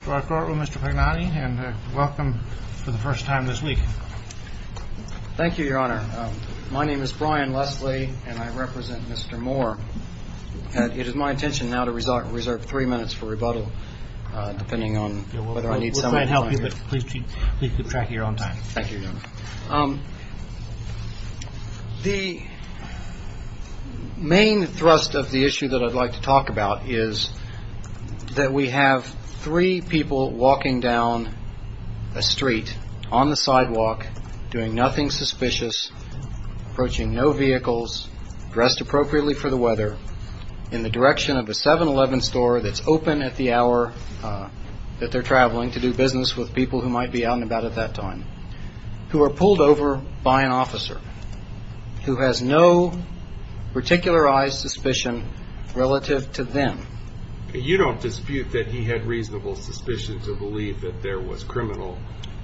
for the first time this week. Thank you, Your Honor. My name is Brian Leslie, and I represent Mr. Moore. It is my intention now to reserve three minutes for rebuttal, depending on whether I need someone to help you, but please keep track of your own time. Thank you, Your Honor. The main thrust of the issue that I'd like to talk about is that we have three people walking down a street on the sidewalk doing nothing suspicious, approaching no vehicles, dressed appropriately for the weather, in the direction of a 7-Eleven store that's open at the hour that they're traveling to do business with people who might be out and about at that time, who are pulled over by an officer who has no particularized suspicion relative to them. You don't dispute that he had reasonable suspicion to believe that there was criminal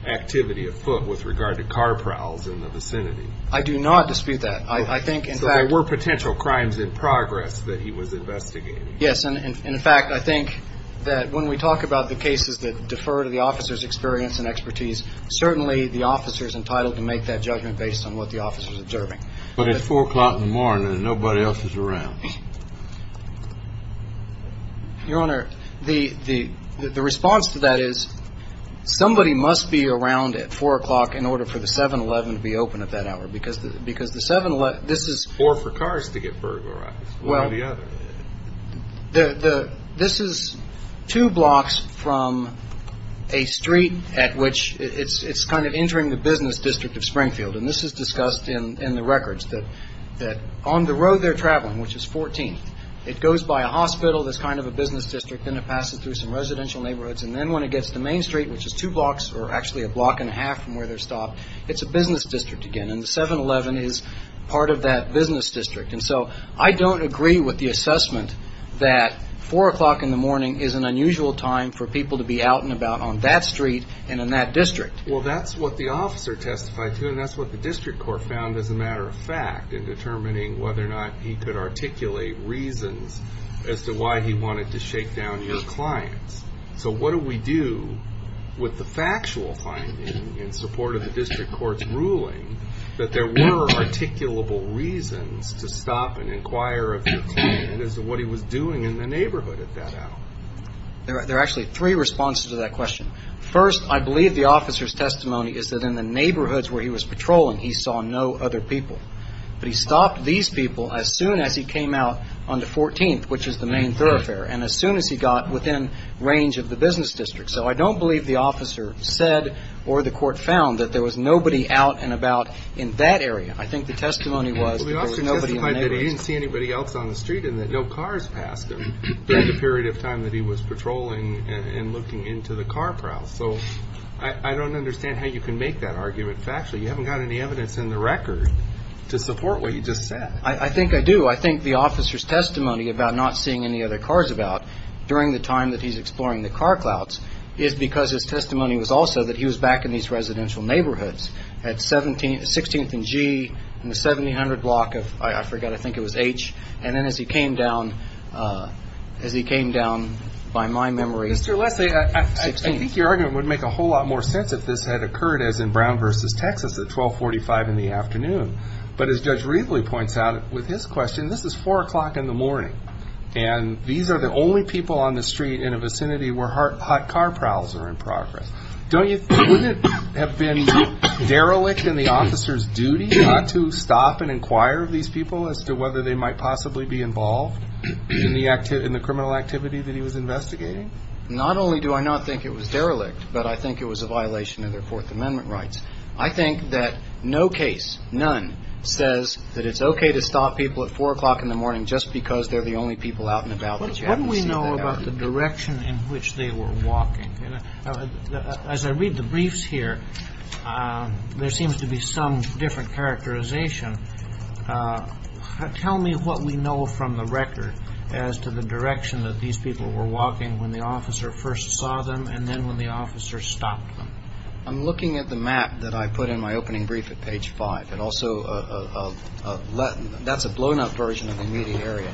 activity afoot with regard to car prowls in the vicinity? I do not dispute that. I think in fact... So there were potential crimes in progress that he was investigating? Yes, and in fact, I think that when we talk about the cases that defer to the officer's experience and expertise, certainly the officer is entitled to make that judgment based on what the officer is observing. But at 4 o'clock in the morning and nobody else is around? Your Honor, the response to that is somebody must be around at 4 o'clock in order for the 7-Eleven to be open at that hour, because the 7-Eleven... Or for cars to get burglarized, one or the other. This is two blocks from a street at which it's kind of entering the business district of Springfield. And this is discussed in the records, that on the road they're traveling, which is 14th, it goes by a hospital that's kind of a business district, then it passes through some residential neighborhoods, and then when it gets to Main Street, which is two blocks, or actually a block and a half from where they're stopped, it's a business district again, and the 7-Eleven is part of that business district. And so I don't agree with the assessment that 4 o'clock in the morning is an unusual time for people to be out and about on that street and in that district. Well, that's what the officer testified to, and that's what the district court found as a matter of fact in determining whether or not he could articulate reasons as to why he wanted to shake down your clients. So what do we do with the factual finding in support of the district court's ruling that there were articulable reasons to stop and inquire of your client as to what he was doing in the neighborhood at that hour? There are actually three responses to that question. First, I believe the officer's testimony is that in the neighborhoods where he was patrolling, he saw no other people. But he stopped these people as soon as he came out onto 14th, which is the main thoroughfare, and as soon as he got within range of the business district. So I don't believe the officer said or the court found that there was nobody out and about in that area. I think the testimony was that there was nobody in the neighborhoods. Well, the officer testified that he didn't see anybody else on the street and that no cars passed him during the period of time that he was patrolling and looking into the car prowl. So I don't understand how you can make that argument factually. You haven't got any evidence in the record to support what you just said. I think I do. I think the officer's testimony about not seeing any other cars about during the time that he's exploring the car clouds is because his testimony was also that he was back in these residential neighborhoods at 16th and G and the 1700 block of, I forgot, I think it was H, and then as he came down by my memory. Mr. Leslie, I think your argument would make a whole lot more sense if this had occurred as in Brown versus Texas at 1245 in the afternoon. But as Judge Readley points out with his question, this is 4 o'clock in the morning, and these are the only people on the street in a vicinity where hot car prowls are in progress. Wouldn't it have been derelict in the officer's duty not to stop and inquire of these people as to whether they might possibly be involved in the criminal activity that he was investigating? Not only do I not think it was derelict, but I think it was a violation of their Fourth Amendment rights. I think that no case, none, says that it's okay to stop people at 4 o'clock in the morning just because they're the only people out and about that you haven't seen. What do we know about the direction in which they were walking? As I read the briefs here, there seems to be some different characterization. Tell me what we know from the record as to the direction that these people were walking when the officer first saw them and then when the officer stopped them. I'm looking at the map that I put in my opening brief at page 5. That's a blown-up version of the meaty area.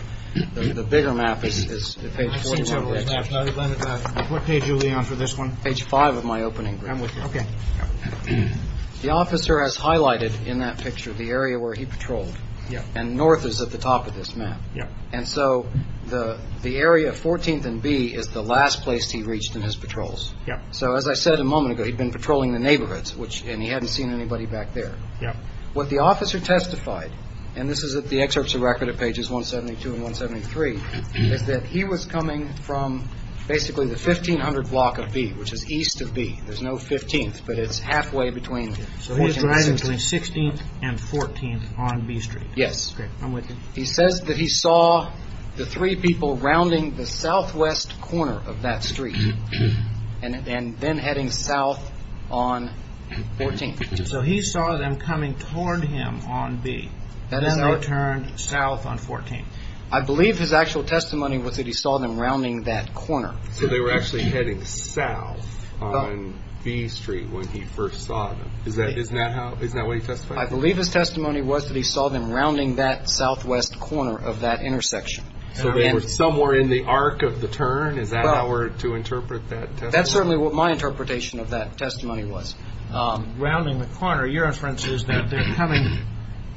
The bigger map is page 4. What page are we on for this one? Page 5 of my opening brief. The officer has highlighted in that picture the area where he patrolled, and north is at the top of this map. And so the area of 14th and B is the last place he reached in his patrols. So as I said a moment ago, he'd been patrolling the neighborhoods, and he hadn't seen anybody back there. What the officer testified, and this is at the excerpts of record at pages 172 and 173, is that he was coming from basically the 1500 block of B, which is east of B. There's no 15th, but it's halfway between 14th and 16th. So he was driving between 16th and 14th on B Street. Yes. He says that he saw the three people rounding the southwest corner of that street. And then heading south on 14th. So he saw them coming toward him on B. And then they turned south on 14th. I believe his actual testimony was that he saw them rounding that corner. So they were actually heading south on B Street when he first saw them. Isn't that what he testified? I believe his testimony was that he saw them rounding that southwest corner of that intersection. So they were somewhere in the arc of the turn? Is that how we're to interpret that testimony? That's certainly what my interpretation of that testimony was. Rounding the corner. Your inference is that they're coming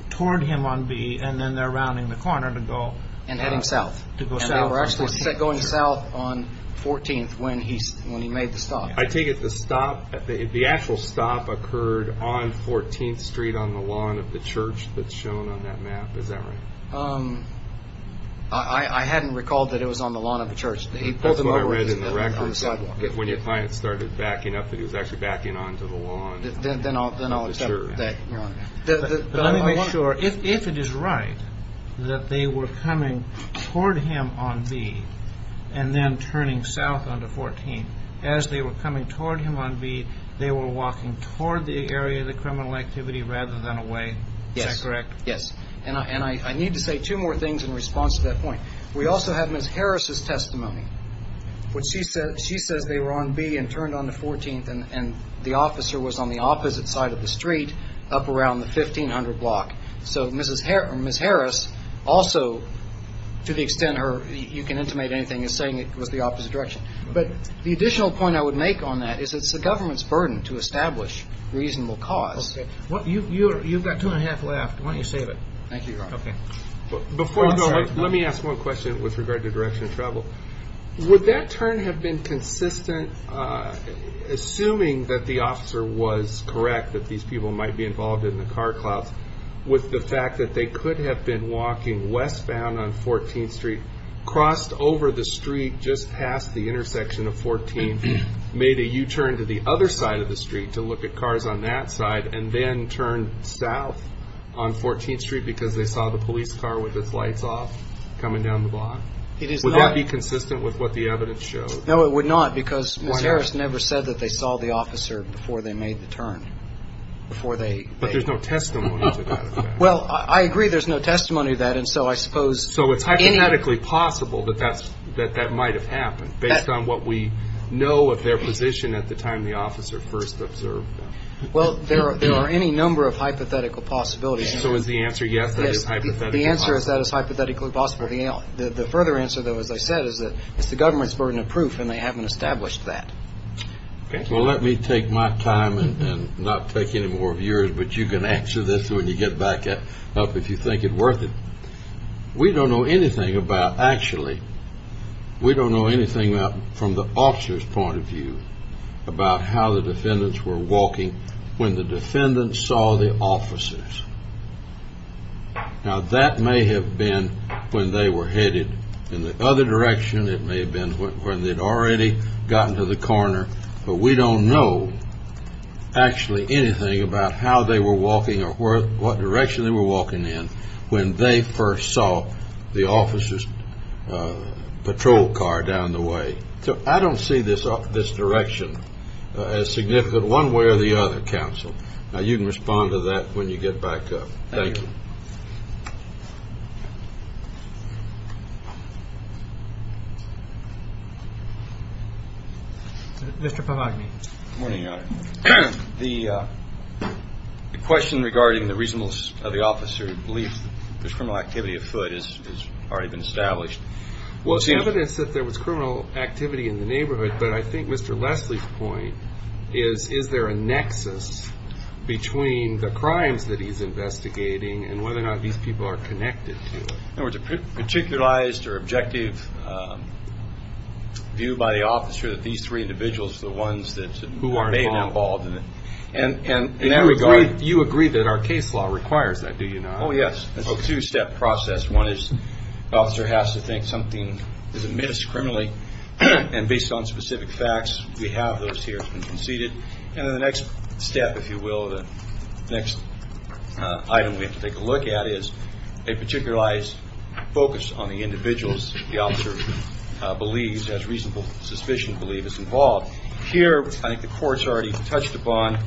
toward him on B, and then they're rounding the corner to go south. They were actually going south on 14th when he made the stop. I take it the actual stop occurred on 14th Street on the lawn of the church that's shown on that map. Is that right? I hadn't recalled that it was on the lawn of the church. That's what I read in the records when your client started backing up that he was actually backing onto the lawn of the church. Let me make sure. If it is right that they were coming toward him on B and then turning south onto 14th, as they were coming toward him on B, they were walking toward the area of the criminal activity rather than away. Is that correct? Yes. We also have Ms. Harris' testimony. She says they were on B and turned onto 14th, and the officer was on the opposite side of the street up around the 1500 block. So Ms. Harris also, to the extent you can intimate anything, is saying it was the opposite direction. But the additional point I would make on that is it's the government's burden to establish reasonable cause. You've got two and a half left. Thank you, Your Honor. Before I go, let me ask one question with regard to direction of travel. Would that turn have been consistent, assuming that the officer was correct that these people might be involved in the car clouds, with the fact that they could have been walking westbound on 14th Street, crossed over the street just past the intersection of 14th, made a U-turn to the other side of the street to look at cars on that side, and then turned south on 14th Street because they saw the police car with its lights off coming down the block? It is not. Would that be consistent with what the evidence shows? No, it would not, because Ms. Harris never said that they saw the officer before they made the turn, before they... But there's no testimony to that. Well, I agree there's no testimony to that, and so I suppose... So it's hypothetically possible that that might have happened, based on what we know of their position at the time the officer first observed them. Well, there are any number of hypothetical possibilities. So is the answer yes, that it's hypothetically possible? Yes, the answer is that it's hypothetically possible. The further answer, though, as I said, is that it's the government's burden of proof, and they haven't established that. Well, let me take my time and not take any more of yours, but you can answer this when you get back up if you think it worth it. We don't know anything from the officer's point of view about how the defendants were walking when the defendants saw the officers. Now, that may have been when they were headed in the other direction. It may have been when they'd already gotten to the corner, but we don't know actually anything about how they were walking or what direction they were walking in when they first saw the officer's patrol car down the way. So I don't see this direction as significant one way or the other, counsel. Now, you can respond to that when you get back up. Thank you. Mr. Pavagni. Good morning, Your Honor. The question regarding the reasonableness of the officer's belief that there's criminal activity afoot has already been established. Well, it's evidence that there was criminal activity in the neighborhood, but I think Mr. Leslie's point is, is there a nexus between the crimes that he's investigating and whether or not these people are connected to it? In other words, a particularized or objective view by the officer that these three individuals are the ones who are involved in it. And you agree that our case law requires that, do you not? Oh, yes. It's a two-step process. One is the officer has to think something is amiss criminally, and based on specific facts, we have those here conceded. And then the next step, if you will, the next item we have to take a look at is a particularized focus on the individuals the officer believes, has reasonable suspicion to believe is involved. Here, I think the court's already touched upon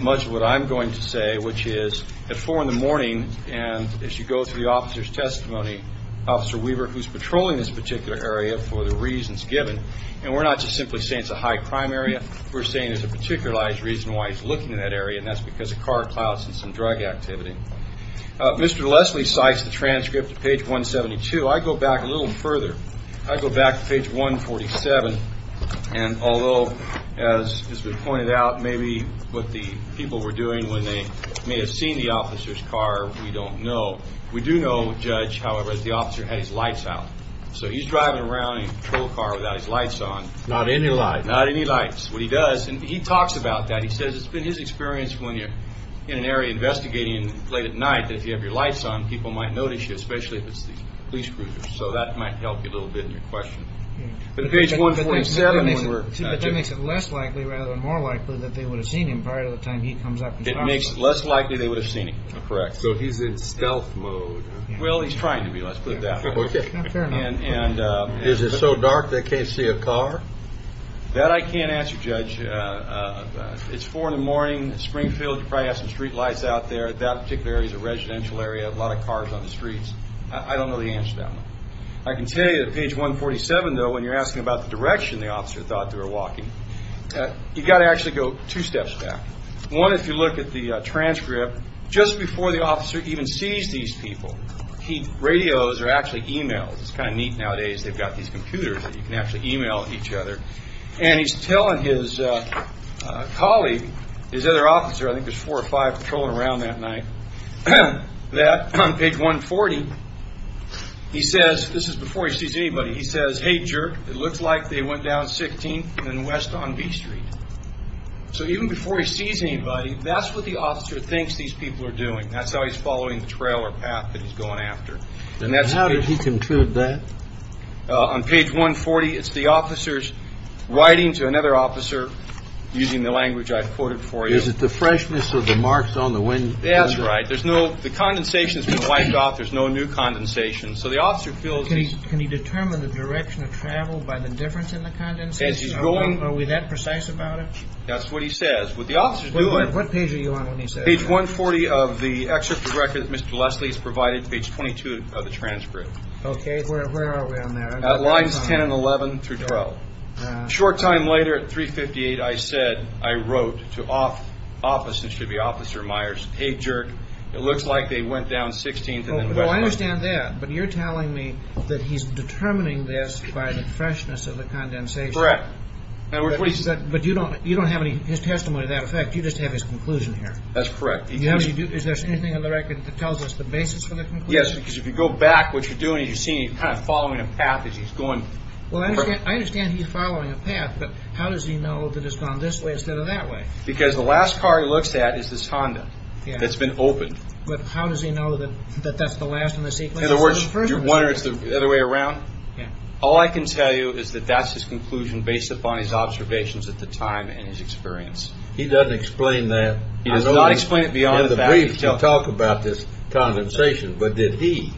much of what I'm going to say, which is at 4 in the morning, and as you go through the officer's testimony, Officer Weaver, who's patrolling this particular area for the reasons given, and we're not just simply saying it's a high-crime area. We're saying there's a particularized reason why he's looking in that area, and that's because of car clouds and some drug activity. Mr. Leslie cites the transcript at page 172. I go back a little further. I go back to page 147, and although, as has been pointed out, maybe what the people were doing when they may have seen the officer's car, we don't know. We do know, Judge, however, that the officer had his lights out. So he's driving around in a patrol car without his lights on. Not any lights. Not any lights. What he does, and he talks about that. He says it's been his experience when you're in an area investigating late at night, that if you have your lights on, people might notice you, especially if it's the police cruisers. So that might help you a little bit in your question. But page 147, when we're not doing that. But that makes it less likely rather than more likely that they would have seen him prior to the time he comes up. It makes it less likely they would have seen him. Correct. So he's in stealth mode. Well, he's trying to be. Is it so dark they can't see a car? That I can't answer, Judge. It's 4 in the morning. Springfield, you probably have some street lights out there. That particular area is a residential area. A lot of cars on the streets. I don't know the answer to that one. I can tell you that page 147, though, when you're asking about the direction the officer thought they were walking, you've got to actually go two steps back. One, if you look at the transcript, just before the officer even sees these people, radios are actually e-mails. It's kind of neat nowadays. They've got these computers that you can actually e-mail each other. And he's telling his colleague, his other officer, I think there's four or five patrolling around that night, that on page 140, he says, this is before he sees anybody, he says, Hey, jerk, it looks like they went down 16th and west on B Street. So even before he sees anybody, that's what the officer thinks these people are doing. That's how he's following the trail or path that he's going after. And how did he conclude that? On page 140, it's the officer's writing to another officer using the language I've quoted for you. Is it the freshness or the marks on the window? That's right. The condensation's been wiped off. There's no new condensation. So the officer feels he's... Can he determine the direction of travel by the difference in the condensation? Are we that precise about it? What the officer's doing... What page are you on when he says that? Page 140 of the excerpt of the record that Mr. Leslie has provided, page 22 of the transcript. Okay, where are we on there? Lines 10 and 11 through 12. Short time later, at 3.58, I said, I wrote to Officer Myers, Hey, jerk, it looks like they went down 16th and west on... I understand that, but you're telling me that he's determining this by the freshness of the condensation. Correct. But you don't have his testimony to that effect. You just have his conclusion here. That's correct. Is there anything in the record that tells us the basis for the conclusion? Yes, because if you go back, what you're doing is you're seeing he's kind of following a path as he's going... Well, I understand he's following a path, but how does he know that it's gone this way instead of that way? Because the last car he looks at is this Honda that's been opened. But how does he know that that's the last in the sequence? In other words, do you wonder if it's the other way around? Yeah. All I can tell you is that that's his conclusion based upon his observations at the time and his experience. He doesn't explain that. He does not explain it beyond the fact that he's telling... In the briefs you talk about this condensation, but did he?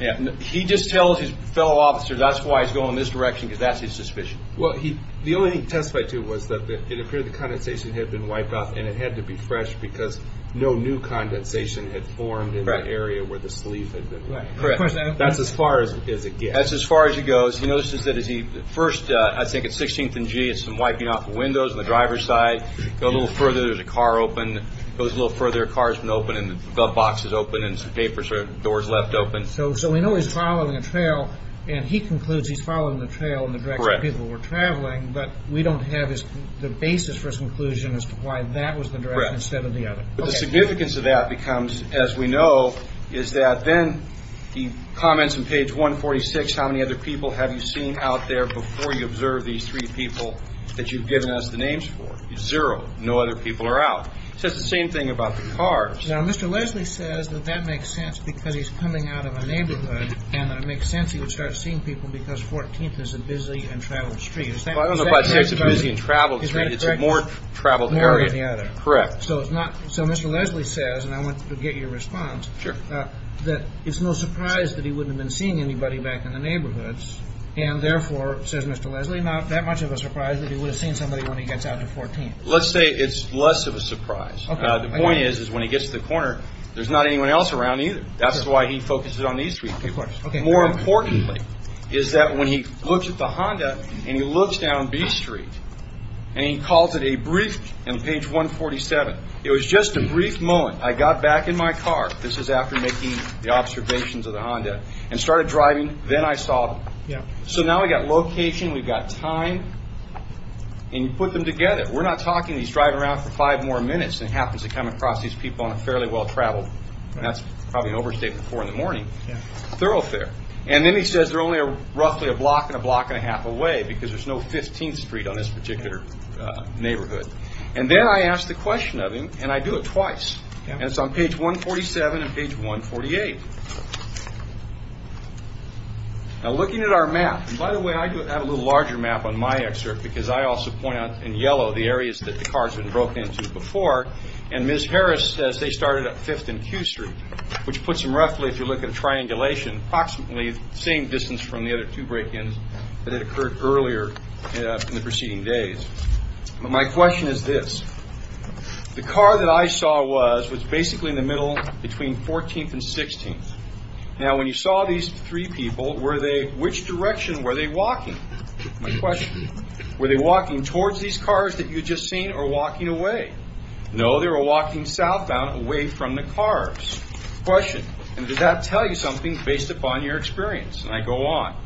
Yeah. He just tells his fellow officer that's why it's going this direction because that's his suspicion. Well, the only thing he testified to was that it appeared the condensation had been wiped off and it had to be fresh because no new condensation had formed in the area where the sleeve had been wiped. Correct. That's as far as it goes. That's as far as it goes. First, I think at 16th and G, it's some wiping off the windows on the driver's side. Go a little further, there's a car open. Go a little further, a car's been opened and the glove box is open and some papers or doors left open. So we know he's following a trail, and he concludes he's following the trail in the direction people were traveling, but we don't have the basis for his conclusion as to why that was the direction instead of the other. Correct. But the significance of that becomes, as we know, is that then he comments on page 146, how many other people have you seen out there before you observe these three people that you've given us the names for? Zero. No other people are out. He says the same thing about the cars. Now, Mr. Leslie says that that makes sense because he's coming out of a neighborhood and that it makes sense he would start seeing people because 14th is a busy and traveled street. I don't know if I'd say it's a busy and traveled street. It's a more traveled area. More than the other. Correct. So Mr. Leslie says, and I want to get your response, that it's no surprise that he wouldn't have been seeing anybody back in the neighborhoods, and therefore, says Mr. Leslie, not that much of a surprise that he would have seen somebody when he gets out to 14th. Let's say it's less of a surprise. The point is, is when he gets to the corner, there's not anyone else around either. That's why he focuses on these three people. More importantly is that when he looks at the Honda and he looks down B Street and he calls it a brief, and page 147, it was just a brief moment. I got back in my car, this is after making the observations of the Honda, and started driving. Then I saw them. Yeah. So now we've got location, we've got time, and you put them together. We're not talking he's driving around for five more minutes and happens to come across these people on a fairly well-traveled, and that's probably an overstatement for in the morning, thoroughfare. And then he says they're only roughly a block and a block and a half away because there's no 15th Street on this particular neighborhood. And then I ask the question of him, and I do it twice. And it's on page 147 and page 148. Now looking at our map, and by the way, I have a little larger map on my excerpt because I also point out in yellow the areas that the cars had broken into before, and Ms. Harris says they started at 5th and Q Street, which puts them roughly, if you look at a triangulation, approximately the same distance from the other two break-ins that had occurred earlier in the preceding days. But my question is this. The car that I saw was basically in the middle between 14th and 16th. Now when you saw these three people, which direction were they walking? My question, were they walking towards these cars that you had just seen or walking away? No, they were walking southbound away from the cars. Question, and does that tell you something based upon your experience? And I go on.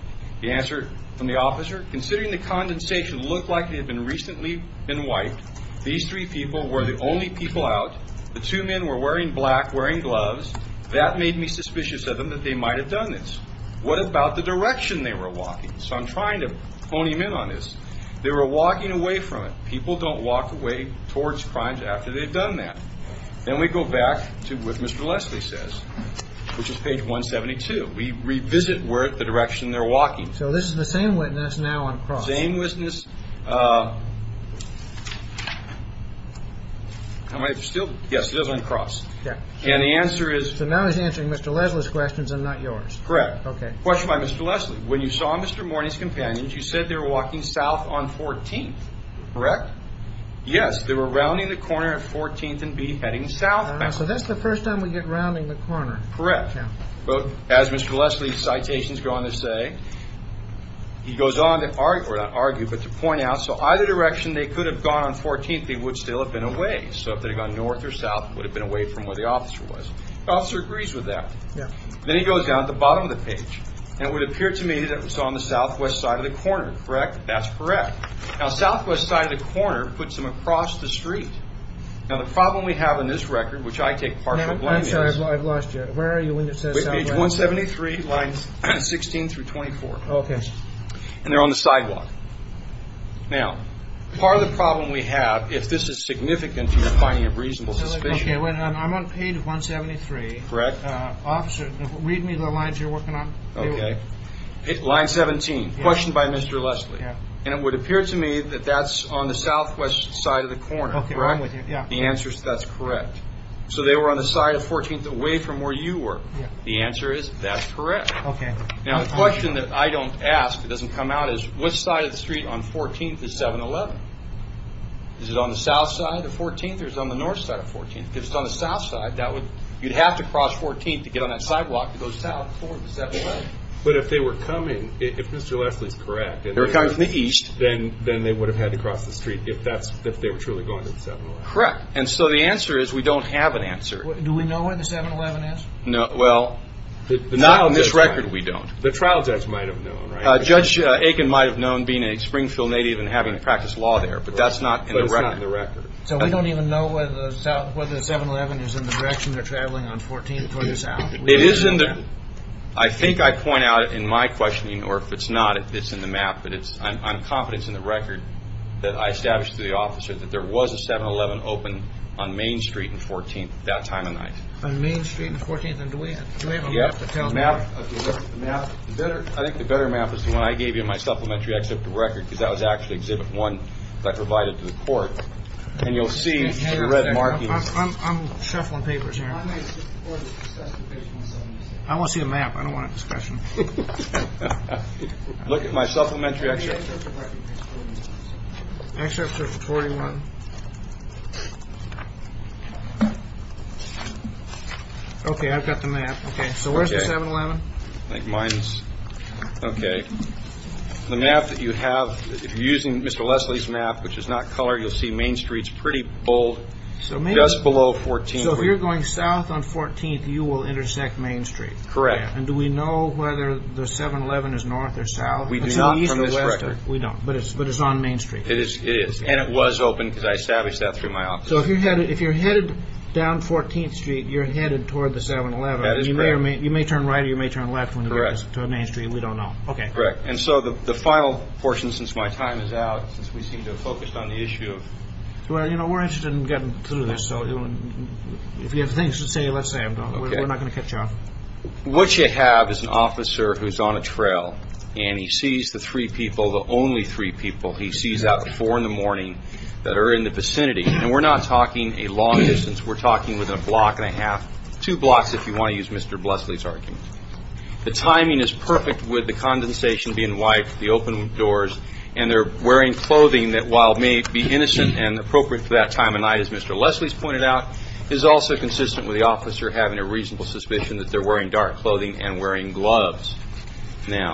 The answer from the officer, considering the condensation looked like it had recently been wiped, these three people were the only people out. The two men were wearing black, wearing gloves. That made me suspicious of them that they might have done this. What about the direction they were walking? So I'm trying to hone him in on this. They were walking away from it. People don't walk away towards crimes after they've done that. Then we go back to what Mr. Leslie says, which is page 172. We revisit the direction they're walking. So this is the same witness now on the cross. Same witness. Yes, it is on the cross. And the answer is? So now he's answering Mr. Leslie's questions and not yours. Question by Mr. Leslie. When you saw Mr. Morney's companions, you said they were walking south on 14th, correct? Yes, they were rounding the corner at 14th and B heading south. So that's the first time we get rounding the corner. Correct. As Mr. Leslie's citations go on to say, he goes on to argue, but to point out, so either direction they could have gone on 14th, they would still have been away. So if they had gone north or south, they would have been away from where the officer was. The officer agrees with that. Then he goes down to the bottom of the page. And it would appear to me that it was on the southwest side of the corner, correct? That's correct. Now, southwest side of the corner puts them across the street. Now, the problem we have in this record, which I take partial blame is. I'm sorry, I've lost you. Where are you when it says southwest? Page 173, lines 16 through 24. Okay. And they're on the sidewalk. Now, part of the problem we have, if this is significant and you're finding a reasonable suspicion. Okay, I'm on page 173. Correct. Officer, read me the lines you're working on. Okay. Line 17, question by Mr. Leslie. And it would appear to me that that's on the southwest side of the corner, correct? Okay, I'm with you. The answer is that's correct. So they were on the side of 14th, away from where you were. The answer is that's correct. Okay. Now, the question that I don't ask that doesn't come out is. What side of the street on 14th is 711? Is it on the south side of 14th or is it on the north side of 14th? If it's on the south side, you'd have to cross 14th to get on that sidewalk to go south toward the 711. But if they were coming, if Mr. Leslie is correct. If they were coming from the east, then they would have had to cross the street if they were truly going to the 711. Correct. And so the answer is we don't have an answer. Do we know where the 711 is? No. Well, not on this record we don't. The trial judge might have known, right? Judge Aiken might have known being a Springfield native and having to practice law there, but that's not in the record. So we don't even know whether the 711 is in the direction they're traveling on 14th toward the south? I think I point out in my questioning, or if it's not, if it's in the map, but I'm confident it's in the record, that I established to the officer that there was a 711 open on Main Street and 14th at that time of night. On Main Street and 14th? And do we have a map to tell us? I think the better map is the one I gave you in my supplementary, except the record, because that was actually exhibit one that I provided to the court. And you'll see the red markings. I'm shuffling papers here. I want to see a map. I don't want a discussion. Look at my supplementary excerpt. Excerpt from 21. Okay, I've got the map. So where's the 711? Okay. The map that you have, if you're using Mr. Leslie's map, which is not color, you'll see Main Street's pretty bold, just below 14th. So if you're going south on 14th, you will intersect Main Street? Correct. And do we know whether the 711 is north or south? We do not from this record. But it's on Main Street? It is. And it was open, because I established that through my officer. So if you're headed down 14th Street, you're headed toward the 711. That is correct. You may turn right or you may turn left when you get to Main Street. We don't know. Okay. Correct. And so the final portion, since my time is out, since we seem to have focused on the issue of... Well, you know, we're interested in getting through this. So if you have things to say, let's say them. We're not going to cut you off. What you have is an officer who's on a trail, and he sees the three people, the only three people he sees out at 4 in the morning that are in the vicinity. And we're not talking a long distance. We're talking within a block and a half, two blocks if you want to use Mr. Leslie's argument. The timing is perfect with the condensation being wiped, the open doors, and they're wearing clothing that while may be innocent and appropriate for that time of night, as Mr. Leslie's pointed out, is also consistent with the officer having a reasonable suspicion that they're wearing dark clothing and wearing gloves. Now,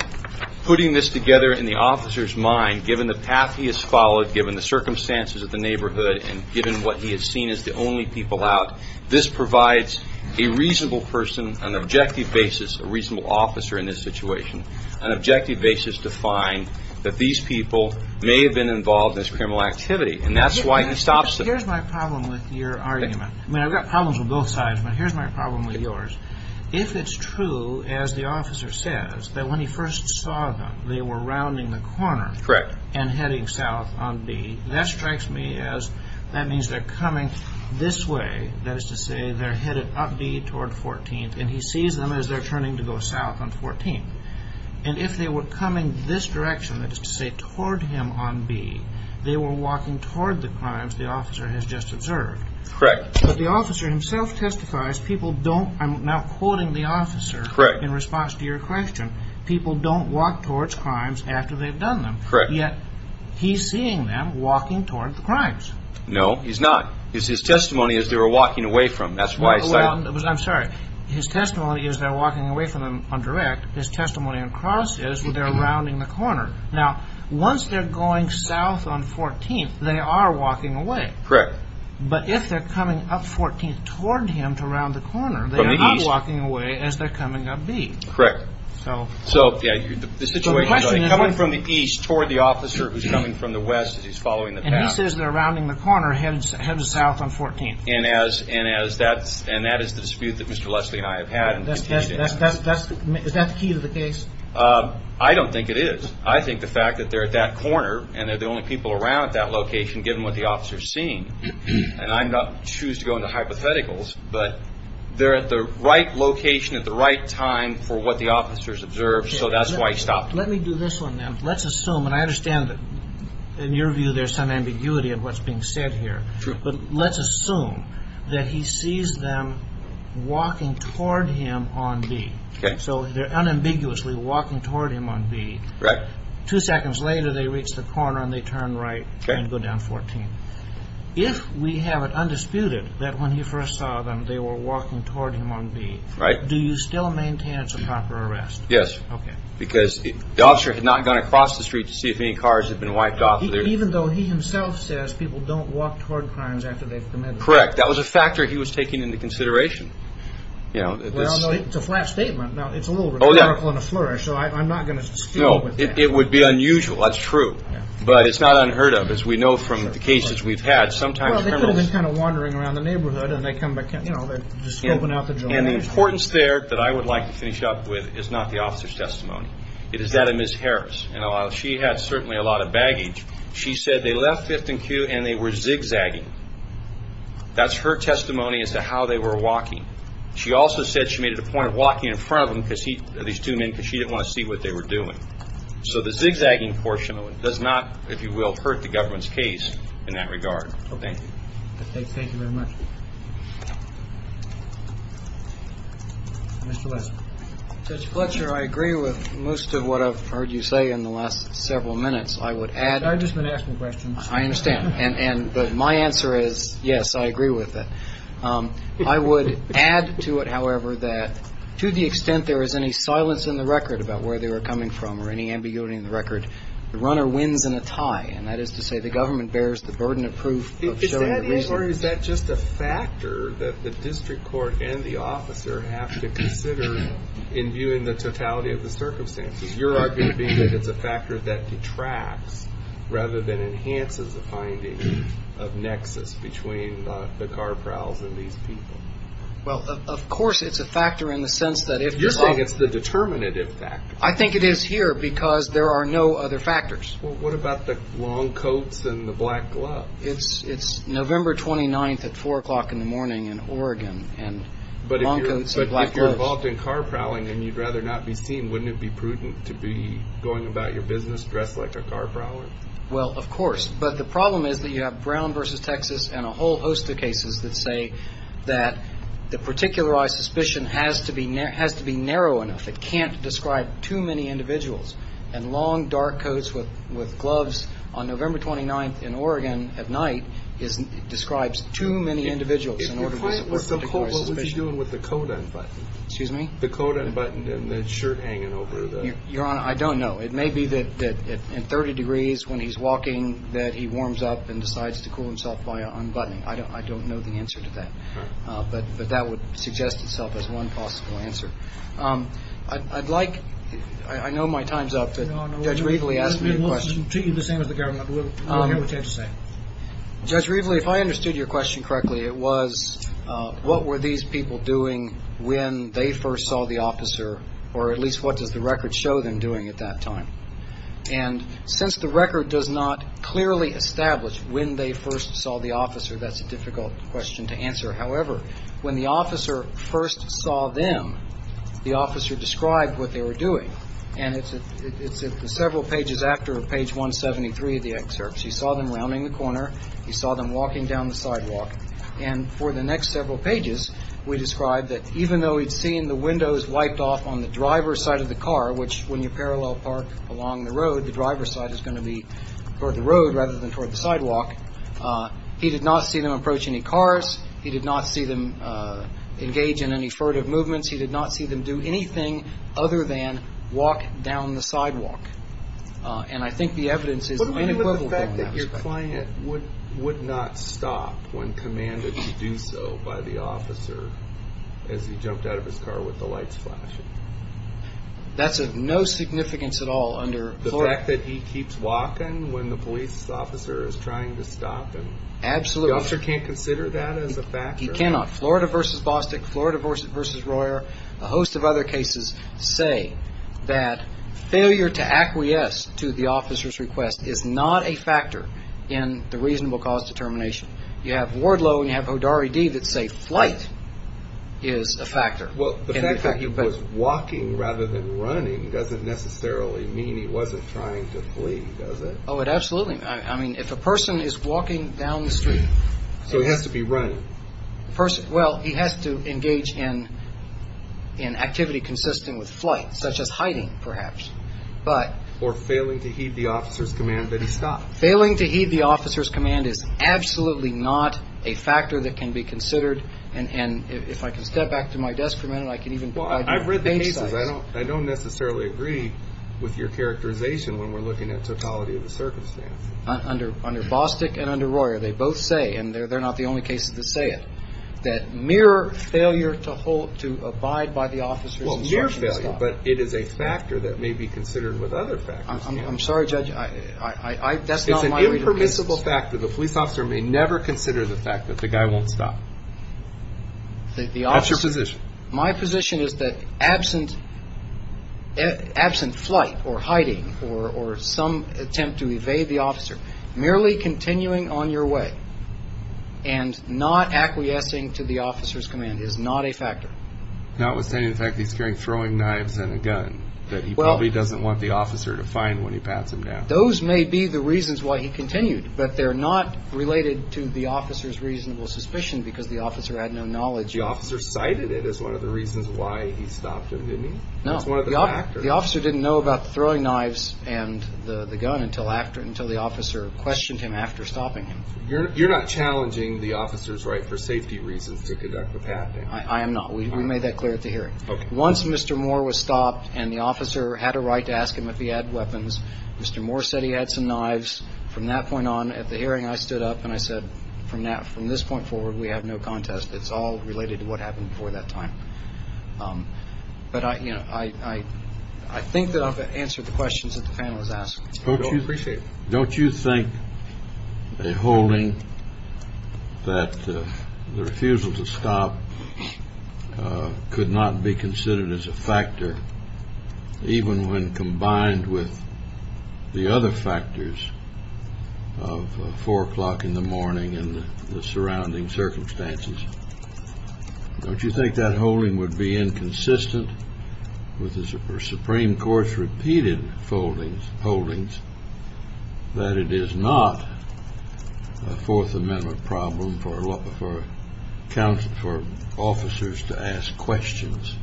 putting this together in the officer's mind, given the path he has followed, given the circumstances of the neighborhood, and given what he has seen as the only people out, this provides a reasonable person, an objective basis, a reasonable officer in this situation, an objective basis to find that these people may have been involved in this criminal activity. And that's why he stops them. Here's my problem with your argument. I mean, I've got problems with both sides, but here's my problem with yours. If it's true, as the officer says, that when he first saw them, they were rounding the corner... Correct. ...and heading south on B, that strikes me as that means they're coming this way. That is to say, they're headed up B toward 14th, and he sees them as they're turning to go south on 14th. And if they were coming this direction, that is to say, toward him on B, they were walking toward the crimes the officer has just observed. Correct. But the officer himself testifies people don't, I'm now quoting the officer... Correct. ...in response to your question, people don't walk towards crimes after they've done them. Correct. Yet he's seeing them walking toward the crimes. No, he's not. It's his testimony as they were walking away from him. That's why I cited... Well, I'm sorry. His testimony is they're walking away from him on direct. His testimony on cross is they're rounding the corner. Now, once they're going south on 14th, they are walking away. Correct. But if they're coming up 14th toward him to round the corner... From the east. ...they are not walking away as they're coming up B. Correct. So... So, yeah, the situation is like coming from the east toward the officer who's coming from the west as he's following the path. And he says they're rounding the corner headed south on 14th. And that is the dispute that Mr. Leslie and I have had. Is that the key to the case? I don't think it is. I think the fact that they're at that corner and they're the only people around at that location given what the officer is seeing, and I choose to go into hypotheticals, but they're at the right location at the right time for what the officer has observed, so that's why he stopped. Let me do this one, then. Let's assume, and I understand that in your view there's some ambiguity of what's being said here. But let's assume that he sees them walking toward him on B. Okay. So they're unambiguously walking toward him on B. Correct. Two seconds later they reach the corner and they turn right and go down 14th. If we have it undisputed that when he first saw them they were walking toward him on B, do you still maintain it's a proper arrest? Yes. Okay. Because the officer had not gone across the street to see if any cars had been wiped off. Even though he himself says people don't walk toward crimes after they've committed them. Correct. That was a factor he was taking into consideration. Well, no, it's a flat statement. Now, it's a little rhetorical in a flourish, so I'm not going to skew it. No, it would be unusual, that's true. But it's not unheard of, as we know from the cases we've had. Sometimes criminals... Well, they could have been kind of wandering around the neighborhood and they come back and, you know, they just open out the door. And the importance there that I would like to finish up with is not the officer's testimony. It is that of Ms. Harris, and she had certainly a lot of baggage. She said they left 5th and Q and they were zigzagging. That's her testimony as to how they were walking. She also said she made it a point of walking in front of them, at least two men, because she didn't want to see what they were doing. So the zigzagging portion of it does not, if you will, hurt the government's case in that regard. Thank you. Thank you very much. Mr. Lesser. Judge Fletcher, I agree with most of what I've heard you say in the last several minutes. I would add... I've just been asking questions. I understand. And my answer is yes, I agree with that. I would add to it, however, that to the extent there is any silence in the record about where they were coming from or any ambiguity in the record, the runner wins in a tie. And that is to say the government bears the burden of proof. Is that just a factor that the district court and the officer have to consider in viewing the totality of the circumstances? You're arguing that it's a factor that detracts rather than enhances the finding of nexus between the car prowls and these people. Well, of course it's a factor in the sense that if... You're saying it's the determinative factor. I think it is here because there are no other factors. Well, what about the long coats and the black gloves? It's November 29th at 4 o'clock in the morning in Oregon and long coats and black gloves. But if you're involved in car prowling and you'd rather not be seen, wouldn't it be prudent to be going about your business dressed like a car prowler? Well, of course. But the problem is that you have Brown v. Texas and a whole host of cases that say that the particularized suspicion has to be narrow enough. It can't describe too many individuals. And long, dark coats with gloves on November 29th in Oregon at night describes too many individuals in order to support a particular suspicion. What was he doing with the coat unbuttoned? Excuse me? The coat unbuttoned and the shirt hanging over the... Your Honor, I don't know. It may be that in 30 degrees when he's walking that he warms up and decides to cool himself by unbuttoning. I don't know the answer to that. But that would suggest itself as one possible answer. I'd like... I know my time's up, but Judge Reveley asked me a question. No, no. This man wants to speak to you the same as the government. We'll hear what you have to say. Judge Reveley, if I understood your question correctly, it was what were these people doing when they first saw the officer or at least what does the record show them doing at that time? And since the record does not clearly establish when they first saw the officer, that's a difficult question to answer. However, when the officer first saw them, the officer described what they were doing. And it's several pages after page 173 of the excerpts. He saw them rounding the corner. He saw them walking down the sidewalk. And for the next several pages, we describe that even though he'd seen the windows wiped off on the driver's side of the car, which when you parallel park along the road, the driver's side is going to be toward the road rather than toward the sidewalk, he did not see them approach any cars. He did not see them engage in any furtive movements. He did not see them do anything other than walk down the sidewalk. And I think the evidence is the main equivalent. The fact that your client would not stop when commanded to do so by the officer as he jumped out of his car with the lights flashing. That's of no significance at all under Florida. The fact that he keeps walking when the police officer is trying to stop him. Absolutely. The officer can't consider that as a factor. He cannot. Florida versus Bostick, Florida versus Royer, a host of other cases say that failure to acquiesce to the officer's request is not a factor in the reasonable cause determination. You have Wardlow and you have Hodari-D that say flight is a factor. Well, the fact that he was walking rather than running doesn't necessarily mean he wasn't trying to flee, does it? Oh, absolutely. I mean, if a person is walking down the street. So he has to be running. Well, he has to engage in activity consistent with flight, such as hiding, perhaps. Or failing to heed the officer's command that he stopped. Failing to heed the officer's command is absolutely not a factor that can be considered. And if I can step back to my desk for a minute, I can even provide you with the page size. Well, I've read the cases. I don't necessarily agree with your characterization when we're looking at totality of the circumstance. Under Bostick and under Royer, they both say, and they're not the only cases that say it, that mere failure to abide by the officer's instruction stops. But it is a factor that may be considered with other factors. I'm sorry, Judge. That's not my read of the cases. It's an impermissible fact that the police officer may never consider the fact that the guy won't stop. That's your position. My position is that absent flight or hiding or some attempt to evade the officer, merely continuing on your way and not acquiescing to the officer's command is not a factor. Notwithstanding the fact that he's carrying throwing knives and a gun that he probably doesn't want the officer to find when he pats him down. Those may be the reasons why he continued, but they're not related to the officer's reasonable suspicion because the officer had no knowledge. The officer cited it as one of the reasons why he stopped him, didn't he? No. That's one of the factors. The officer didn't know about the throwing knives and the gun until the officer questioned him after stopping him. You're not challenging the officer's right for safety reasons to conduct the patting. I am not. We made that clear at the hearing. Once Mr. Moore was stopped and the officer had a right to ask him if he had weapons, Mr. Moore said he had some knives. From that point on, at the hearing, I stood up and I said, from this point forward, we have no contest. It's all related to what happened before that time. But I think that I've answered the questions that the panel has asked. Don't you think a holding that the refusal to stop could not be considered as a factor, even when combined with the other factors of 4 o'clock in the morning and the surrounding circumstances? Don't you think that holding would be inconsistent with the Supreme Court's repeated holdings that it is not a Fourth Amendment problem for officers to ask questions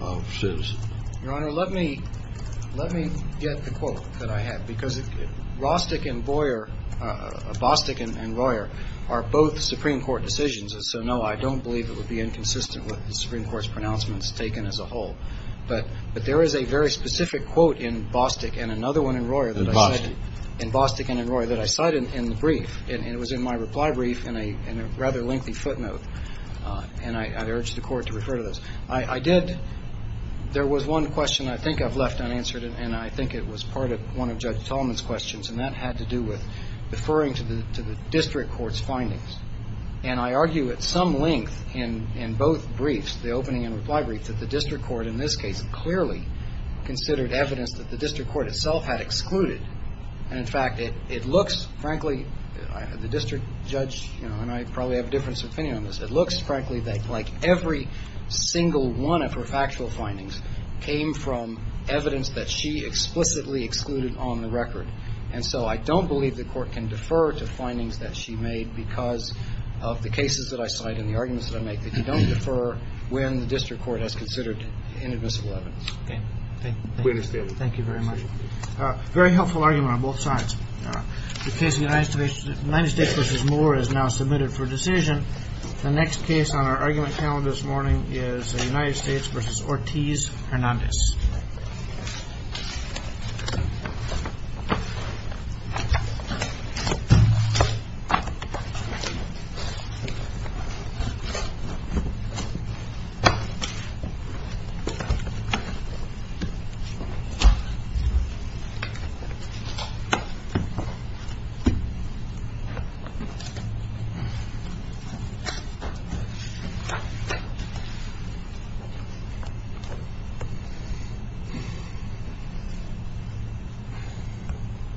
of citizens? Your Honor, let me get the quote that I have, because Rostick and Boyer, Bostick and Royer, are both Supreme Court decisions. And so, no, I don't believe it would be inconsistent with the Supreme Court's pronouncements taken as a whole. But there is a very specific quote in Bostick and another one in Royer that I cited in the brief. And it was in my reply brief in a rather lengthy footnote. And I urge the Court to refer to this. There was one question I think I've left unanswered, and I think it was part of one of Judge Tolman's questions, and that had to do with referring to the district court's findings. And I argue at some length in both briefs, the opening and reply briefs, that the district court in this case clearly considered evidence that the district court itself had excluded. And, in fact, it looks, frankly, the district judge and I probably have a different opinion on this, it looks, frankly, like every single one of her factual findings came from evidence that she explicitly excluded on the record. And so I don't believe the Court can defer to findings that she made because of the cases that I cite and the arguments that I make that you don't defer when the district court has considered inadmissible evidence. Okay. Thank you. We understand. Thank you very much. Very helpful argument on both sides. The case of United States v. Moore is now submitted for decision. The next case on our argument panel this morning is United States v. Ortiz Hernandez.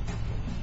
Thank you.